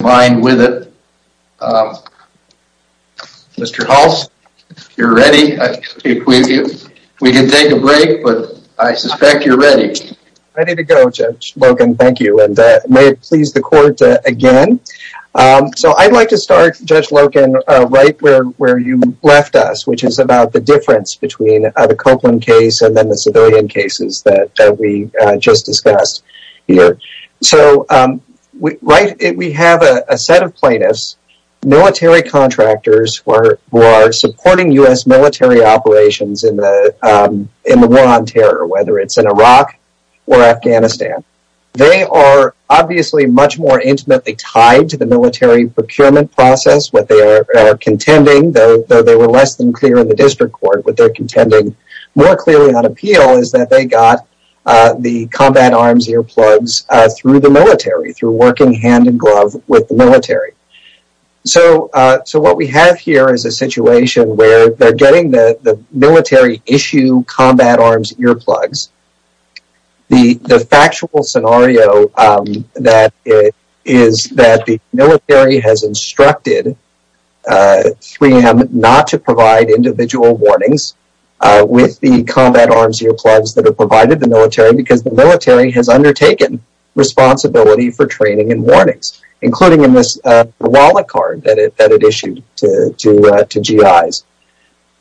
mind with it. Mr. Hulse, you're ready. We can take a break, but I suspect you're ready. Ready to go, Judge Logan. Thank you, and may it please the court again. So I'd like to start, Judge Logan, right where you left us, which is about the difference between the set of plaintiffs, military contractors, who are supporting U.S. military operations in the war on terror, whether it's in Iraq or Afghanistan. They are obviously much more intimately tied to the military procurement process. What they are contending, though they were less than clear in the district court, what they're contending more clearly on appeal is that they got the combat arms earplugs through the military, through working hand-in-glove with the military. So what we have here is a situation where they're getting the military issue combat arms earplugs. The factual scenario is that the military has instructed 3M not to provide individual warnings with the combat arms earplugs that are provided to the military because the military has undertaken responsibility for training and warnings, including in this wallet card that it issued to GIs.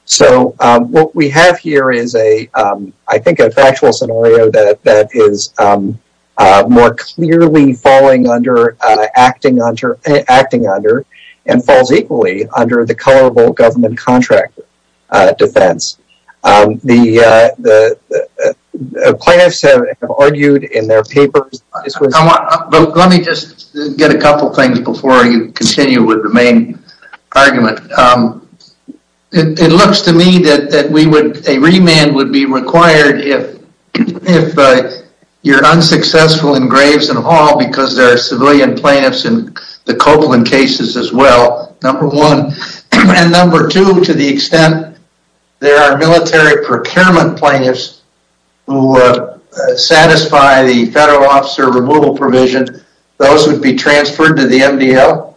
So what we have here is I think a factual scenario that is more clearly falling under, acting under, and falls equally under the colorable government contract defense. The plaintiffs have argued in their couple things before you continue with the main argument. It looks to me that a remand would be required if you're unsuccessful in Graves and Hall because there are civilian plaintiffs in the Copeland cases as well, number one. And number two, to the extent there are military procurement plaintiffs who satisfy the federal officer removal provision, those would be transferred to the MDL?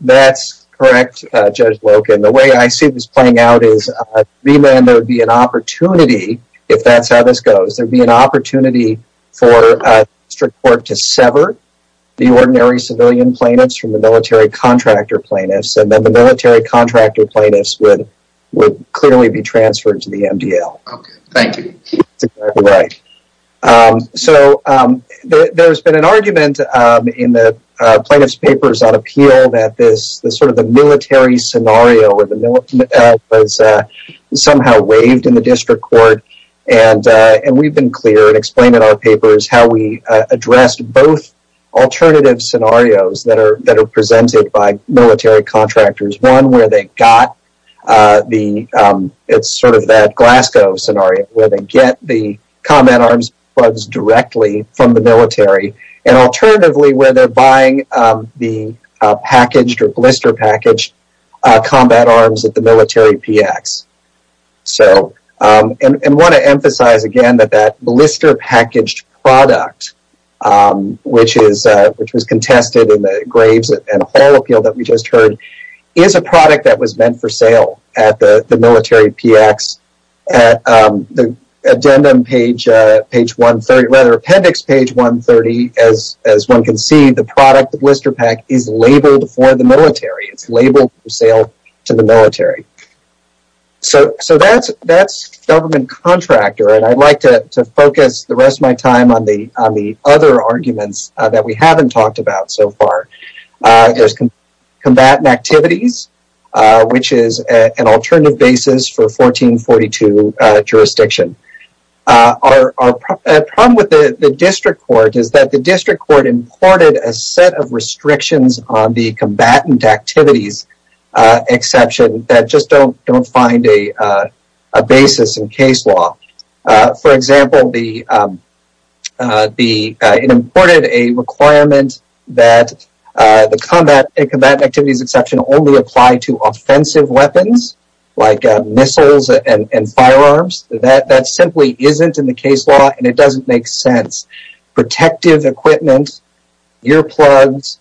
That's correct, Judge Loken. The way I see this playing out is a remand would be an opportunity if that's how this goes. There would be an opportunity for district court to sever the ordinary civilian plaintiffs from the military contractor plaintiffs and then the military contractor plaintiffs would clearly be transferred to the MDL. Thank you. So there's been an argument in the plaintiff's papers on appeal that the military scenario was somehow waived in the district court and we've been clear and explained in our papers how we addressed both alternative scenarios that are presented by military contractors. One, it's sort of that Glasgow scenario where they get the combat arms directly from the military and alternatively where they're buying the packaged or blister packaged combat arms at the military PX. And I want to emphasize again that that blister packaged product, which was contested in the Graves and Hall appeal that we just heard, is a product that was meant for sale at the military PX. At the addendum page 130, rather appendix page 130, as one can see, the product blister pack is labeled for the military. It's labeled for sale to the military. So that's government contractor and I'd like to focus the rest of my time on the other arguments that we haven't talked about so far. There's combatant activities, which is an alternative basis for 1442 jurisdiction. Our problem with the district court is that the district court imported a set of restrictions on the combatant activities exception that just don't find a basis in case law. For example, it imported a requirement that the combatant activities exception only apply to offensive weapons like missiles and firearms. That simply isn't in the case law and it doesn't make sense. Protective equipment, earplugs,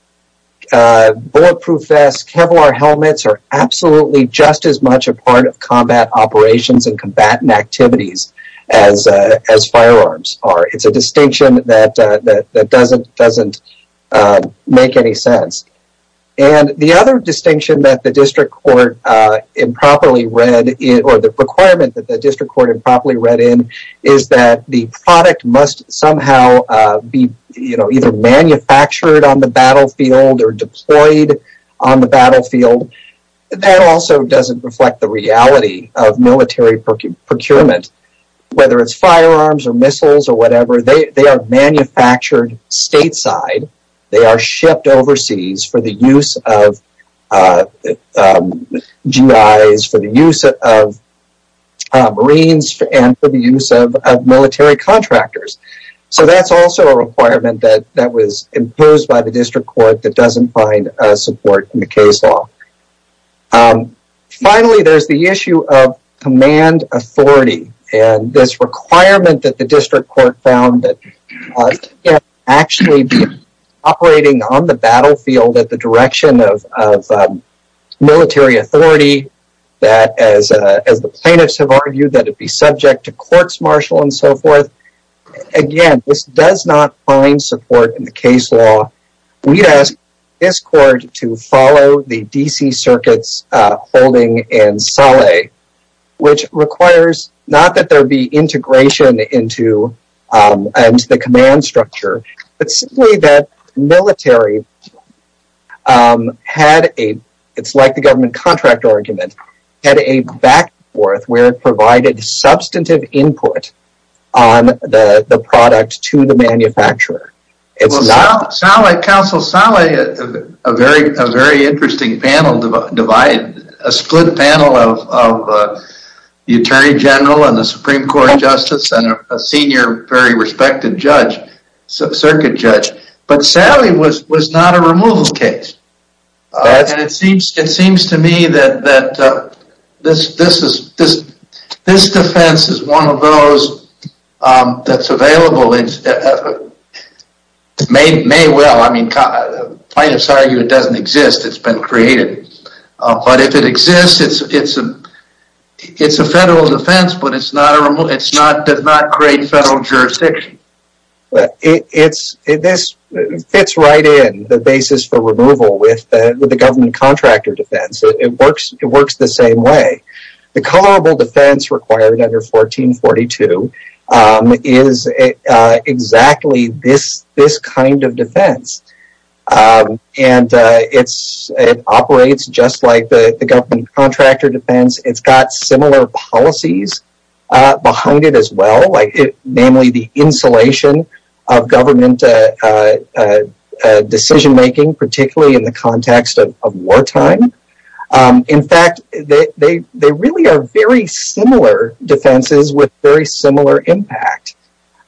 bulletproof vests, Kevlar helmets are absolutely just as much a part of combat operations and combatant activities as firearms are. It's a distinction that doesn't make any sense. The other distinction that the district court improperly read or the requirement that the district court improperly read in, is that the product must somehow be either manufactured on the battlefield or deployed on the battlefield. That also doesn't reflect the reality of military procurement. Whether it's firearms or missiles or whatever, they are manufactured stateside. They are shipped overseas for the use of GIs, for the use of Marines, and for the use of military contractors. So that's also a requirement that was imposed by the district court that doesn't find support in the case law. Finally, there's the issue of command authority and this requirement that the district court found that it can't actually be operating on the battlefield at the direction of military authority that, as the plaintiffs have argued, that it be subject to court's marshal and so forth. Again, this does not find support in the case law. We'd ask this court to follow the DC circuit's holding in Saleh, which requires not that there be integration into the command structure, but simply that military had a, it's like the government contract argument, had a back and provided substantive input on the product to the manufacturer. Counsel, Saleh, a very interesting panel divide, a split panel of the attorney general and the supreme court justice and a senior very respected judge, circuit judge, but Saleh was not a removal case. And it seems to me that this defense is one of those that's available, may well, I mean, plaintiffs argue it doesn't exist, it's been created, but if it exists, it's a federal defense, but it's not a removal, it does not create federal jurisdiction. It's, this fits right in the basis for removal with the government contractor defense. It works the same way. The colorable defense required under 1442 is exactly this kind of defense. And it's, it operates just like the government contractor defense. It's got similar policies behind it as well, namely the insulation of government decision-making, particularly in the context of wartime. In fact, they really are very similar defenses with very similar impact.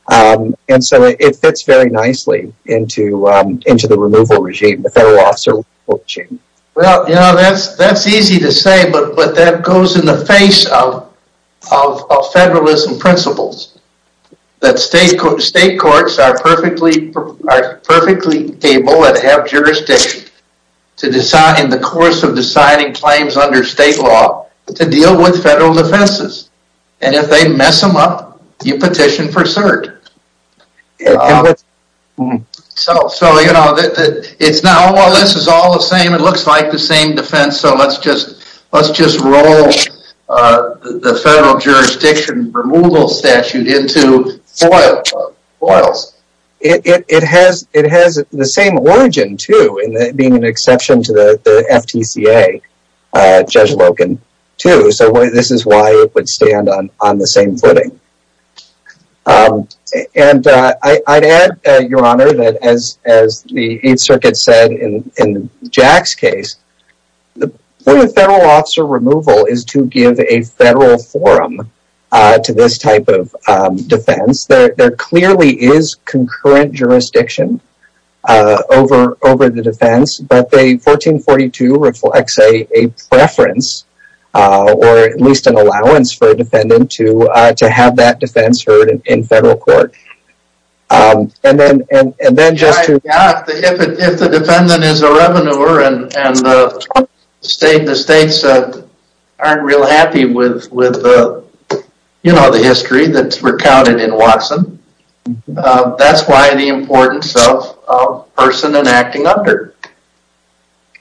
And so it fits very nicely into the removal regime, the federal officer regime. Well, you know, that's easy to say, but that goes in the face of federalism principles that state courts are perfectly able and have jurisdiction to decide in the course of deciding claims under state law to deal with federal defenses. And if they mess them up, you petition for cert. So, so, you know, it's not, oh, well, this is all the same. It looks like the same defense. So let's just, let's just roll the federal jurisdiction removal statute into FOILs. It has, it has the same origin too, being an exception to the FTCA, Judge Logan, too. So this is why it would stand on the same footing. And I'd add, Your Honor, that as, as the Eighth Circuit said in Jack's case, the point of federal officer removal is to give a federal forum to this type of defense. There clearly is concurrent jurisdiction over the defense, but the 1442 reflects a preference or at least an allowance for a defendant to, to have that defense heard in federal court. And then, and then just to... If the defendant is a revenuer and the state, the states aren't real happy with, with the, you know, the history that's recounted in Watson. That's why the importance of person and acting under.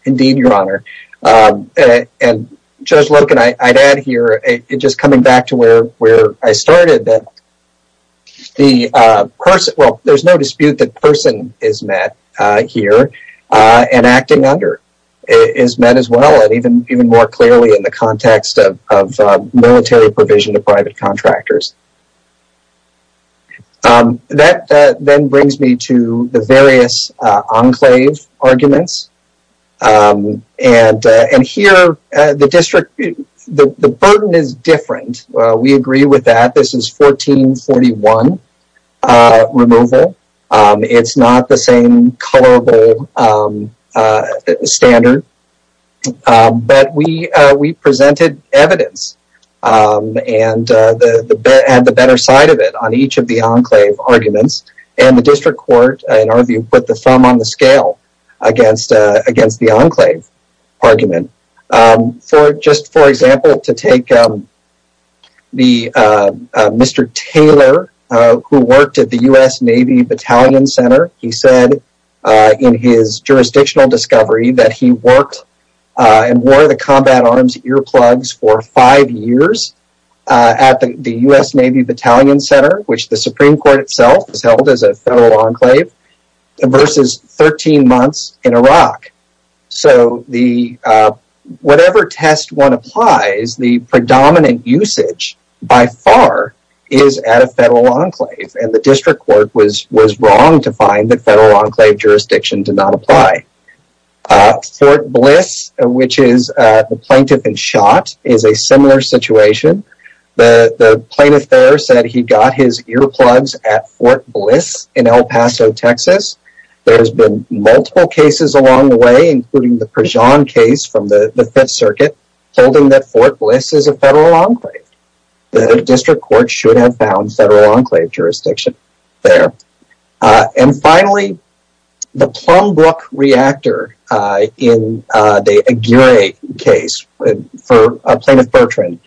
Indeed, Your Honor. And Judge Logan, I'd add here, just coming back to where, where I started that the person, well, there's no dispute that person is met here and acting under is met as well. And even, even more clearly in the context of, of military provision to private contractors. That then brings me to the various enclave arguments. And, and here the district, the, the burden is different. We agree with that. This is 1441 removal. It's not the same colorable standard, but we, we presented evidence and the better side of it on each of the enclave arguments and the district court, in our view, put the thumb on the scale against, against the enclave argument. For just, for example, to take the Mr. Taylor who worked at U.S. Navy Battalion Center, he said in his jurisdictional discovery that he worked and wore the combat arms earplugs for five years at the U.S. Navy Battalion Center, which the Supreme Court itself has held as a federal enclave versus 13 months in Iraq. So the, whatever test one was wrong to find that federal enclave jurisdiction did not apply. Fort Bliss, which is the plaintiff in shot, is a similar situation. The plaintiff there said he got his earplugs at Fort Bliss in El Paso, Texas. There has been multiple cases along the way, including the Prejean case from the Fifth Circuit holding that Fort Bliss is a federal enclave. The district court should have federal enclave jurisdiction there. And finally, the Plum Brook reactor in the Aguirre case for Plaintiff Bertrand.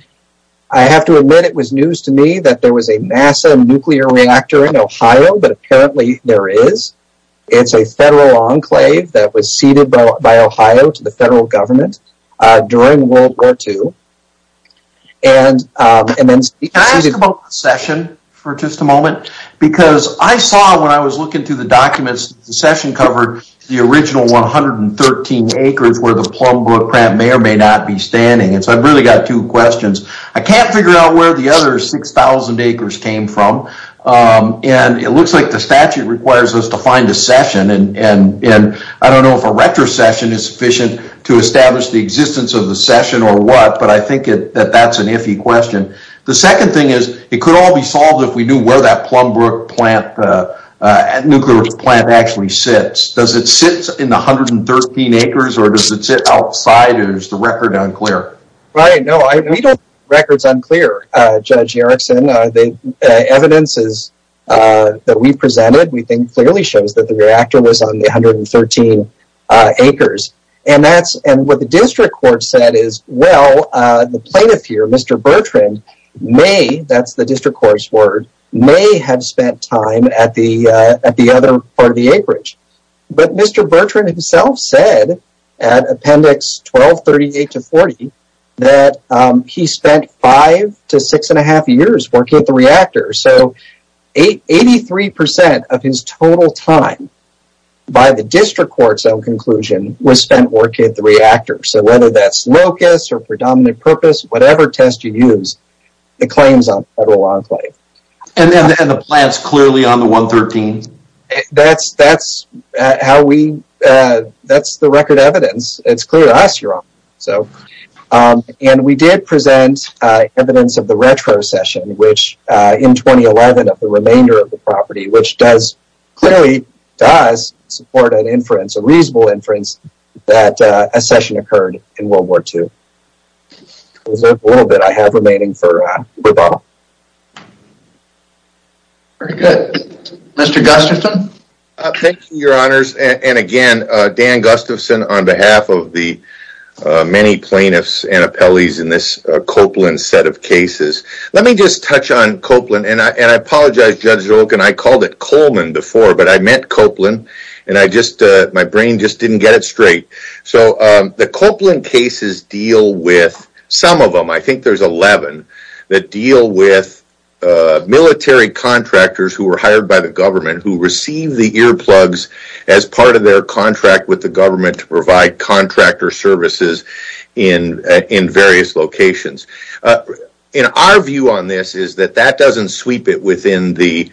I have to admit it was news to me that there was a NASA nuclear reactor in Ohio, but apparently there is. It's a federal enclave that was ceded by Ohio to the federal government during World War II. Can I ask about the session for just a moment? Because I saw, when I was looking through the documents, the session covered the original 113 acres where the Plum Brook may or may not be standing. So I've really got two questions. I can't figure out where the other 6,000 acres came from. And it looks like the statute requires us to find a retrocession is sufficient to establish the existence of the session or what. But I think that that's an iffy question. The second thing is, it could all be solved if we knew where that nuclear plant actually sits. Does it sit in the 113 acres or does it sit outside? Or is the record unclear? Right. No, the record is unclear, Judge Erickson. The evidence that we presented, clearly shows that the reactor was on the 113 acres. And what the district court said is, well, the plaintiff here, Mr. Bertrand, may, that's the district court's word, may have spent time at the other part of the acreage. But Mr. Bertrand himself said at Appendix 1238-40 that he spent five to six and a half years working at the reactor. So 83% of his total time by the district court's own conclusion was spent working at the reactor. So whether that's locus or predominant purpose, whatever test you use, the claim's on Federal Enclave. And the plant's clearly on the 113? That's the record evidence. It's clear to us, so. And we did present evidence of the retrocession, which in 2011 of the remainder of the property, which does, clearly does support an inference, a reasonable inference, that a session occurred in World War II. A little bit I have remaining for rebuttal. Very good. Mr. Gustafson. Thank you, Your Honors. And again, Dan Gustafson on behalf of the many plaintiffs and appellees in this Copeland set of cases. Let me just touch on Copeland, and I apologize, Judge Rolkin, I called it Coleman before, but I meant Copeland, and I just, my brain just didn't get it straight. So the Copeland cases deal with, some of them, I think there's 11, that deal with military contractors who were hired by the government, who receive the earplugs as part of their contract with the government to provide contractor services in various locations. And our view on this is that that doesn't sweep it within the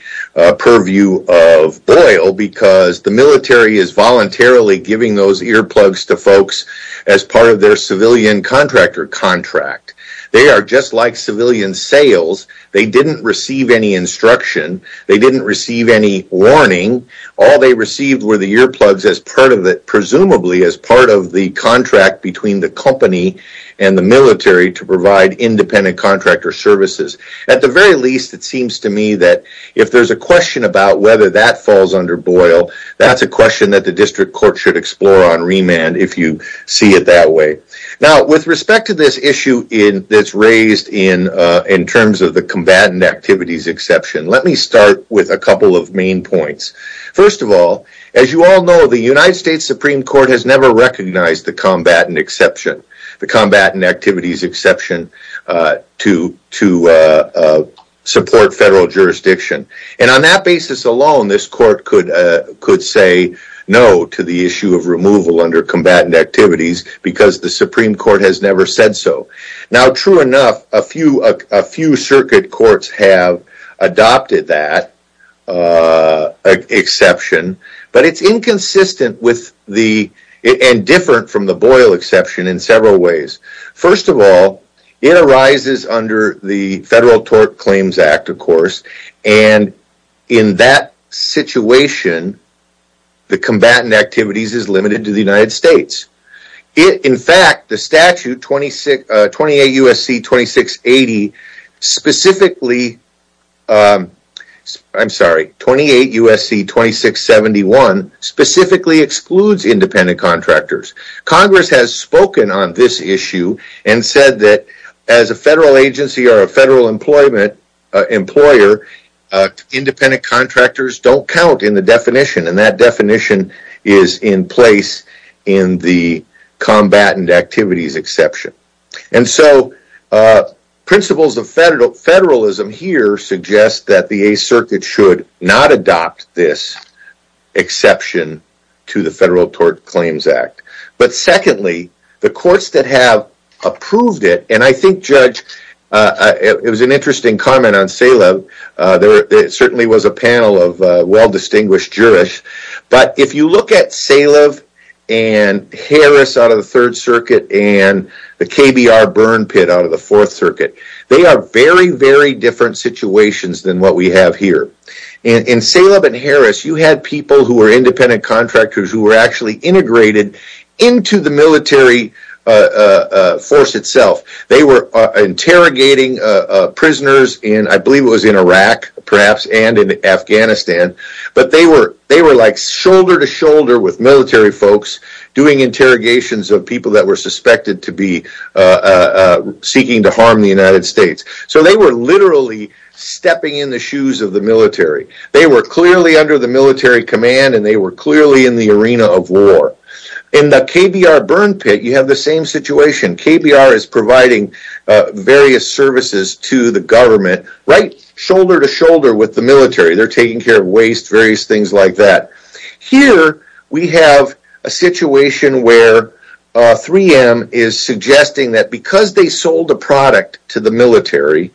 purview of Boyle, because the military is voluntarily giving those earplugs to folks as part of their civilian contractor contract. They are just like civilian sales. They didn't receive any instruction. They didn't receive any warning. All they received were the earplugs as presumably as part of the contract between the company and the military to provide independent contractor services. At the very least, it seems to me that if there's a question about whether that falls under Boyle, that's a question that the district court should explore on remand if you see it that way. Now, with respect to this issue that's raised in terms of the combatant activities exception, let me start with a couple of main points. First of all, as you all know, the United States Supreme Court has never recognized the combatant exception, the combatant activities exception, to support federal jurisdiction. And on that basis alone, this court could say no to the issue of removal under combatant activities because the Supreme Court has never said so. Now, true enough, a few circuit courts have adopted that exception, but it's inconsistent and different from the Boyle exception in several ways. First of all, it arises under the Federal Tort Claims Act, of course, and in that situation, the combatant activities is limited to the United States. In fact, the statute 28 U.S.C. 2680 specifically, I'm sorry, 28 U.S.C. 2671 specifically excludes independent contractors. Congress has spoken on this issue and said that as a federal agency or a federal employer, independent contractors don't count in the definition, and that definition is in place in the combatant activities exception. And so, principles of federalism here suggest that the Eighth Circuit should not adopt this exception to the Federal Tort Claims Act. But secondly, the courts that have approved it, and I think, Judge, it was an interesting comment on Salev. There certainly was a panel of well-distinguished jurists, but if you look at Salev and Harris out of the Third Circuit and the KBR burn pit out of the Fourth Circuit, they are very, very different situations than what we have here. In Salev and Harris, you had people who were independent contractors who were actually integrated into the military force itself. They were interrogating prisoners in, I believe it was in Iraq, perhaps, and in Afghanistan, but they were like shoulder to shoulder with military folks doing interrogations of people that were suspected to be seeking to harm the United States. So, they were literally stepping in the shoes of the military. They were clearly under the military command, and they were clearly in the arena of war. In the KBR burn pit, you have the same situation. KBR is providing various services to the government, right shoulder to shoulder with the military. They are taking care of waste, various things like that. Here, we have a situation where 3M is suggesting that because they sold a product to the military,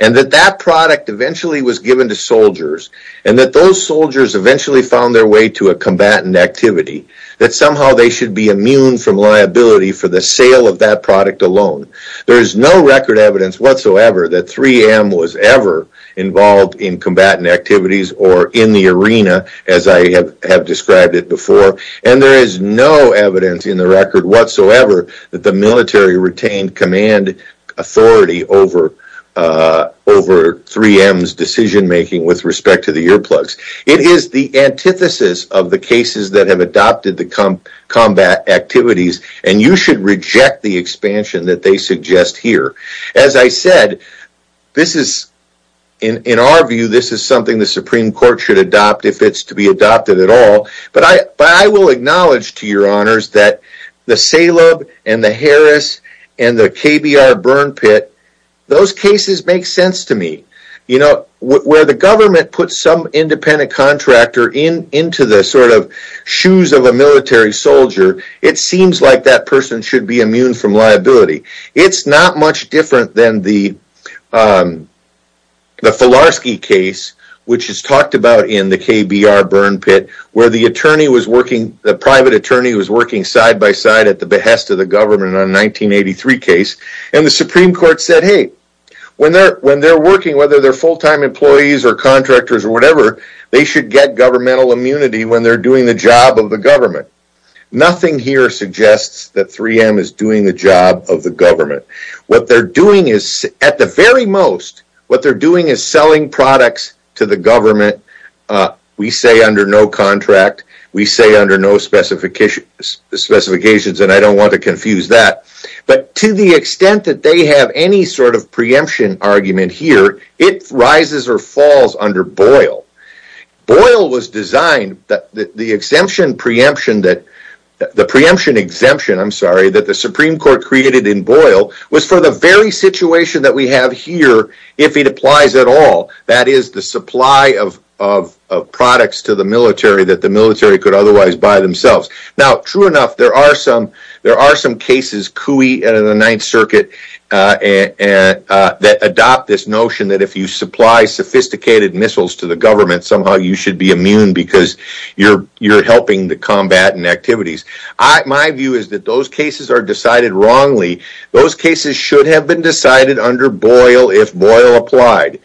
and that that product eventually was given to soldiers, and that those soldiers eventually found their way to a combatant that somehow they should be immune from liability for the sale of that product alone. There is no record evidence whatsoever that 3M was ever involved in combatant activities or in the arena as I have described it before, and there is no evidence in the record whatsoever that the military retained command authority over 3M's decision making with respect to the earplugs. It is the antithesis of the cases that have adopted the combatant activities, and you should reject the expansion that they suggest here. As I said, in our view, this is something the Supreme Court should adopt if it is to be adopted at all, but I will acknowledge to your honors that the Salem, and the Harris, and the KBR burn pit, those cases make sense to me. Where the government puts some independent contractor into the shoes of a military soldier, it seems like that person should be immune from liability. It is not much different than the Filarski case, which is talked about in the KBR burn pit, where the private attorney was side by side at the behest of the government in the 1983 case, and the Supreme Court said, hey, when they are working, whether they are full-time employees or contractors or whatever, they should get governmental immunity when they are doing the job of the government. Nothing here suggests that 3M is doing the job of the government. What they are doing is, at the very most, what they are doing is selling products to the government, we say under no contract, we say under no specifications, and I don't want to confuse that, but to the extent that they have any sort of preemption argument here, it rises or falls under Boyle. Boyle was designed, the preemption exemption that the Supreme Court created in Boyle was for the very otherwise by themselves. True enough, there are some cases that adopt this notion that if you supply sophisticated missiles to the government, somehow you should be immune because you are helping the combat and activities. My view is that those cases are decided wrongly. Those cases should have been decided under Boyle if Boyle applied,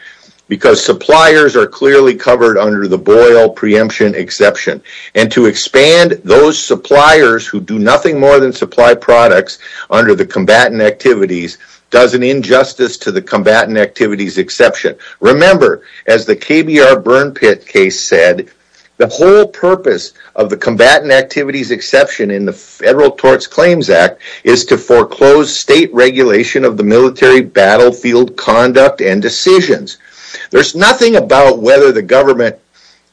because suppliers are clearly covered under the Boyle preemption exception, and to expand those suppliers who do nothing more than supply products under the combatant activities does an injustice to the combatant activities exception. Remember, as the KBR Burn Pit case said, the whole purpose of the combatant activities exception in the Federal Tort Claims Act is to foreclose state regulation of the military battlefield conduct and decisions. There is nothing about whether the government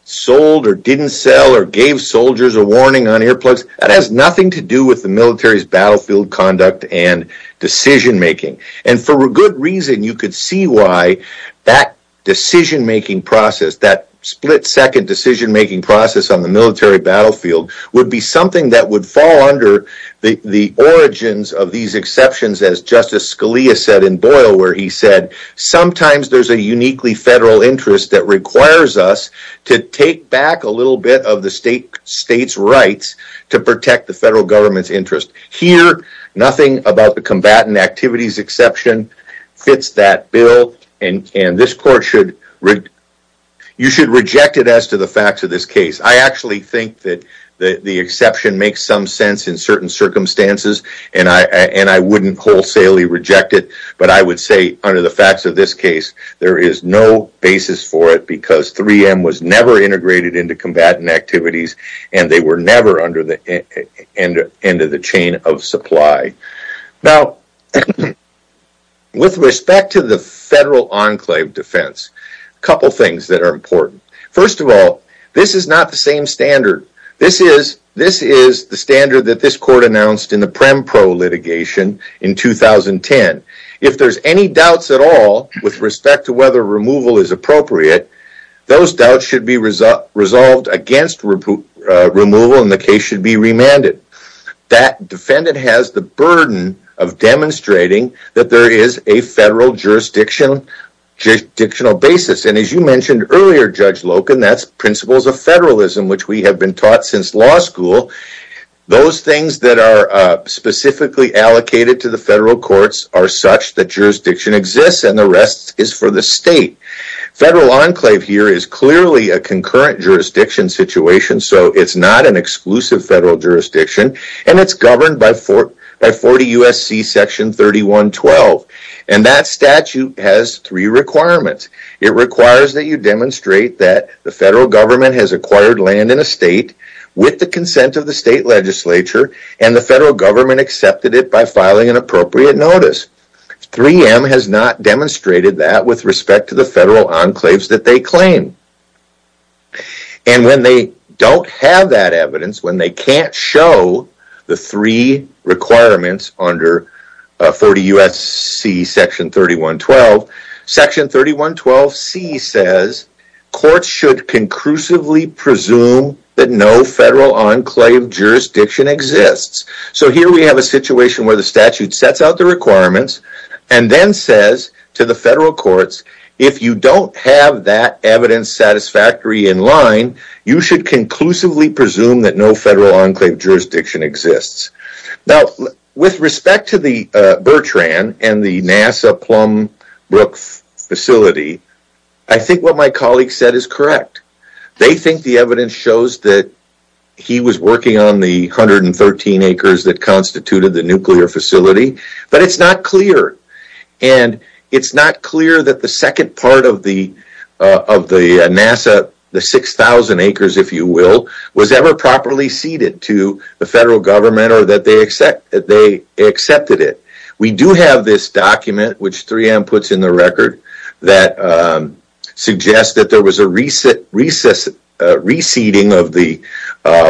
sold or didn't sell or gave soldiers a warning on earplugs. That has nothing to do with the military's battlefield conduct and decision-making, and for good reason, you could see why that decision-making process, that split-second decision-making process on the military battlefield would be something that would fall under the origins of these exceptions, as Justice Scalia said in Boyle where he said, sometimes there is a uniquely federal interest that requires us to take back a little bit of the state's rights to protect the federal government's interest. Here, nothing about the combatant activities exception fits that bill, and you should reject it as to the facts of this makes some sense in certain circumstances, and I wouldn't wholesalely reject it, but I would say under the facts of this case, there is no basis for it because 3M was never integrated into combatant activities, and they were never under the end of the chain of supply. Now, with respect to the federal enclave defense, a couple things that are important. First of all, this is not the same standard. This is the standard that this court announced in the PremPro litigation in 2010. If there's any doubts at all with respect to whether removal is appropriate, those doubts should be resolved against removal, and the case should be remanded. That defendant has the burden of demonstrating that there is a federal jurisdictional basis, and as you mentioned earlier, Judge Loken, that's principles of federalism, which we have been taught since law school. Those things that are specifically allocated to the federal courts are such that jurisdiction exists, and the rest is for the state. Federal enclave here is clearly a concurrent jurisdiction situation, so it's not an exclusive federal jurisdiction, and it's governed by 40 U.S.C. section 3112, and that statute has three requirements. It requires that you demonstrate that the federal government has acquired land in a state with the consent of the state legislature, and the federal government accepted it by filing an appropriate notice. 3M has not demonstrated that with respect to the federal courts, and it can't show the three requirements under 40 U.S.C. section 3112. Section 3112C says courts should conclusively presume that no federal enclave jurisdiction exists, so here we have a situation where the statute sets out the requirements and then says to the federal courts, if you don't have that evidence satisfactory in line, you should conclusively presume that no federal enclave jurisdiction exists. Now, with respect to the Bertrand and the NASA Plum Brook facility, I think what my colleague said is correct. They think the evidence shows that he was working on the 113 acres that constituted the nuclear facility, but it's not ever properly ceded to the federal government or that they accepted it. We do have this document, which 3M puts in the record, that suggests that there was a reseeding of the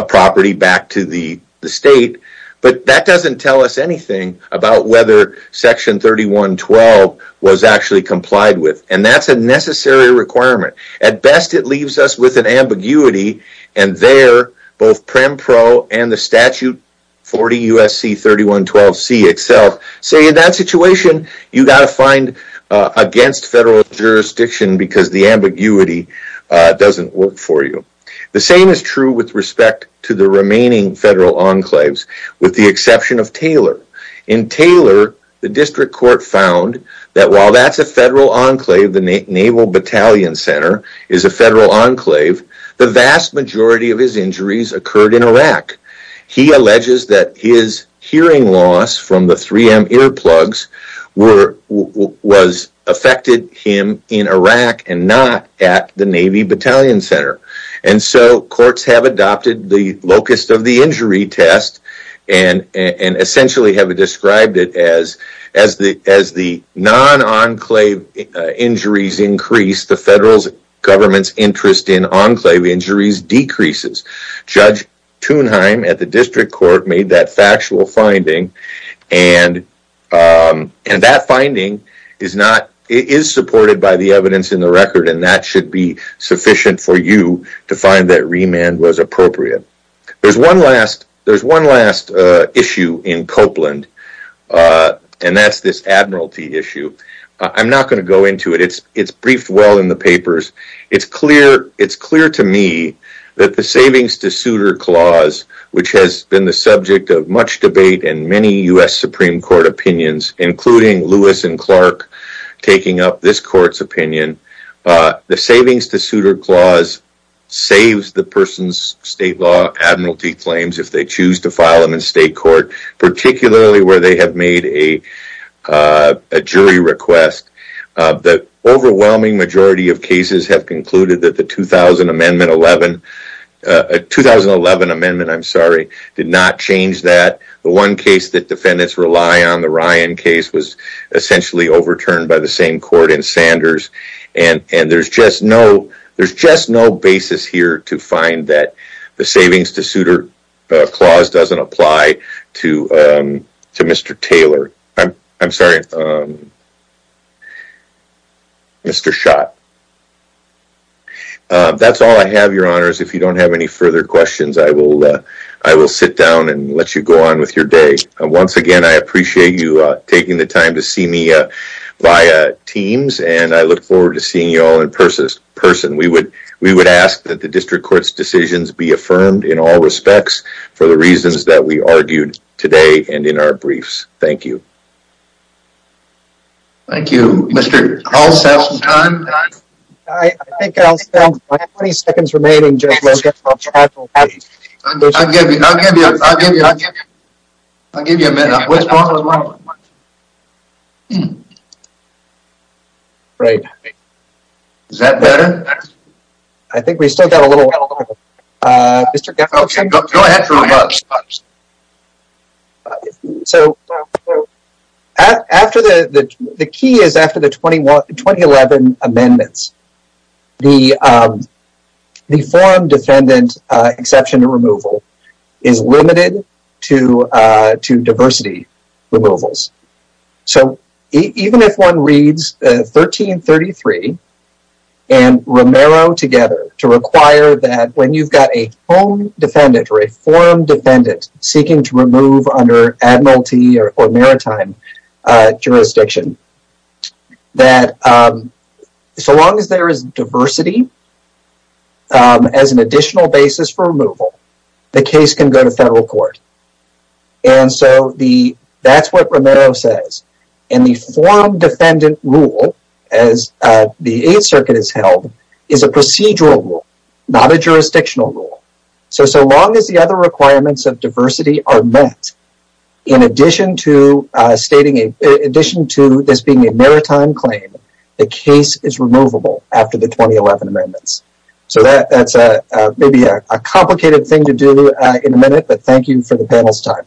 property back to the state, but that doesn't tell us anything about whether section 3112 was actually complied with, and that's a necessary requirement. At best, it leaves us with an ambiguity, and there, both PREMPRO and the statute 40 U.S.C. 3112C itself say in that situation, you've got to find against federal jurisdiction because the ambiguity doesn't work for you. The same is true with respect to the remaining federal enclaves, with the exception of Taylor. In Taylor, the district court found that while that's a federal enclave, the Naval Battalion Center is a federal enclave, the vast majority of his injuries occurred in Iraq. He alleges that his hearing loss from the 3M earplugs was affected him in Iraq and not at the Navy Battalion Center, and so courts have adopted the non-enclave injuries increase, the federal government's interest in enclave injuries decreases. Judge Thunheim at the district court made that factual finding, and that finding is supported by the evidence in the record, and that should be sufficient for you to find that remand was appropriate. There's one last issue in Copeland, and that's this admiralty issue. I'm not going to go into it. It's briefed well in the papers. It's clear to me that the savings to suitor clause, which has been the subject of much debate in many U.S. Supreme Court opinions, including Lewis and Clark taking up this court's opinion, the savings to suitor clause saves the state law admiralty claims if they choose to file them in state court, particularly where they have made a jury request. The overwhelming majority of cases have concluded that the 2011 amendment did not change that. The one case that defendants rely on, the Ryan case, was essentially overturned by the same court in Sanders, and there's just no basis here to find that the savings to suitor clause doesn't apply to Mr. Taylor. I'm sorry, Mr. Schott. That's all I have, Your Honors. If you don't have any further questions, I will sit down and let you go on with your day. Once again, I appreciate you taking the time to see me via Teams, and I look forward to seeing you all in person. We would ask that the district court's decisions be affirmed in all respects for the reasons that we argued today and in our briefs. Thank you. Thank you, Mr. I'll give you a minute. Great. Is that better? I think we still got a little while. Okay, go ahead for a moment. The key is after the 2011 amendments, the form defendant exception removal is limited to require that when you've got a home defendant or a form defendant seeking to remove under admiralty or maritime jurisdiction, that so long as there is diversity as an additional basis for removal, the case can go to federal court. That's what Romero says. The form defendant rule, as the Eighth Circuit has held, is a procedural rule, not a jurisdictional rule. So long as the other requirements of diversity are met, in addition to this being a maritime claim, the case is removable after the 2011 amendments. So that's maybe a complicated thing to do in a minute, but thank you for the panel's time.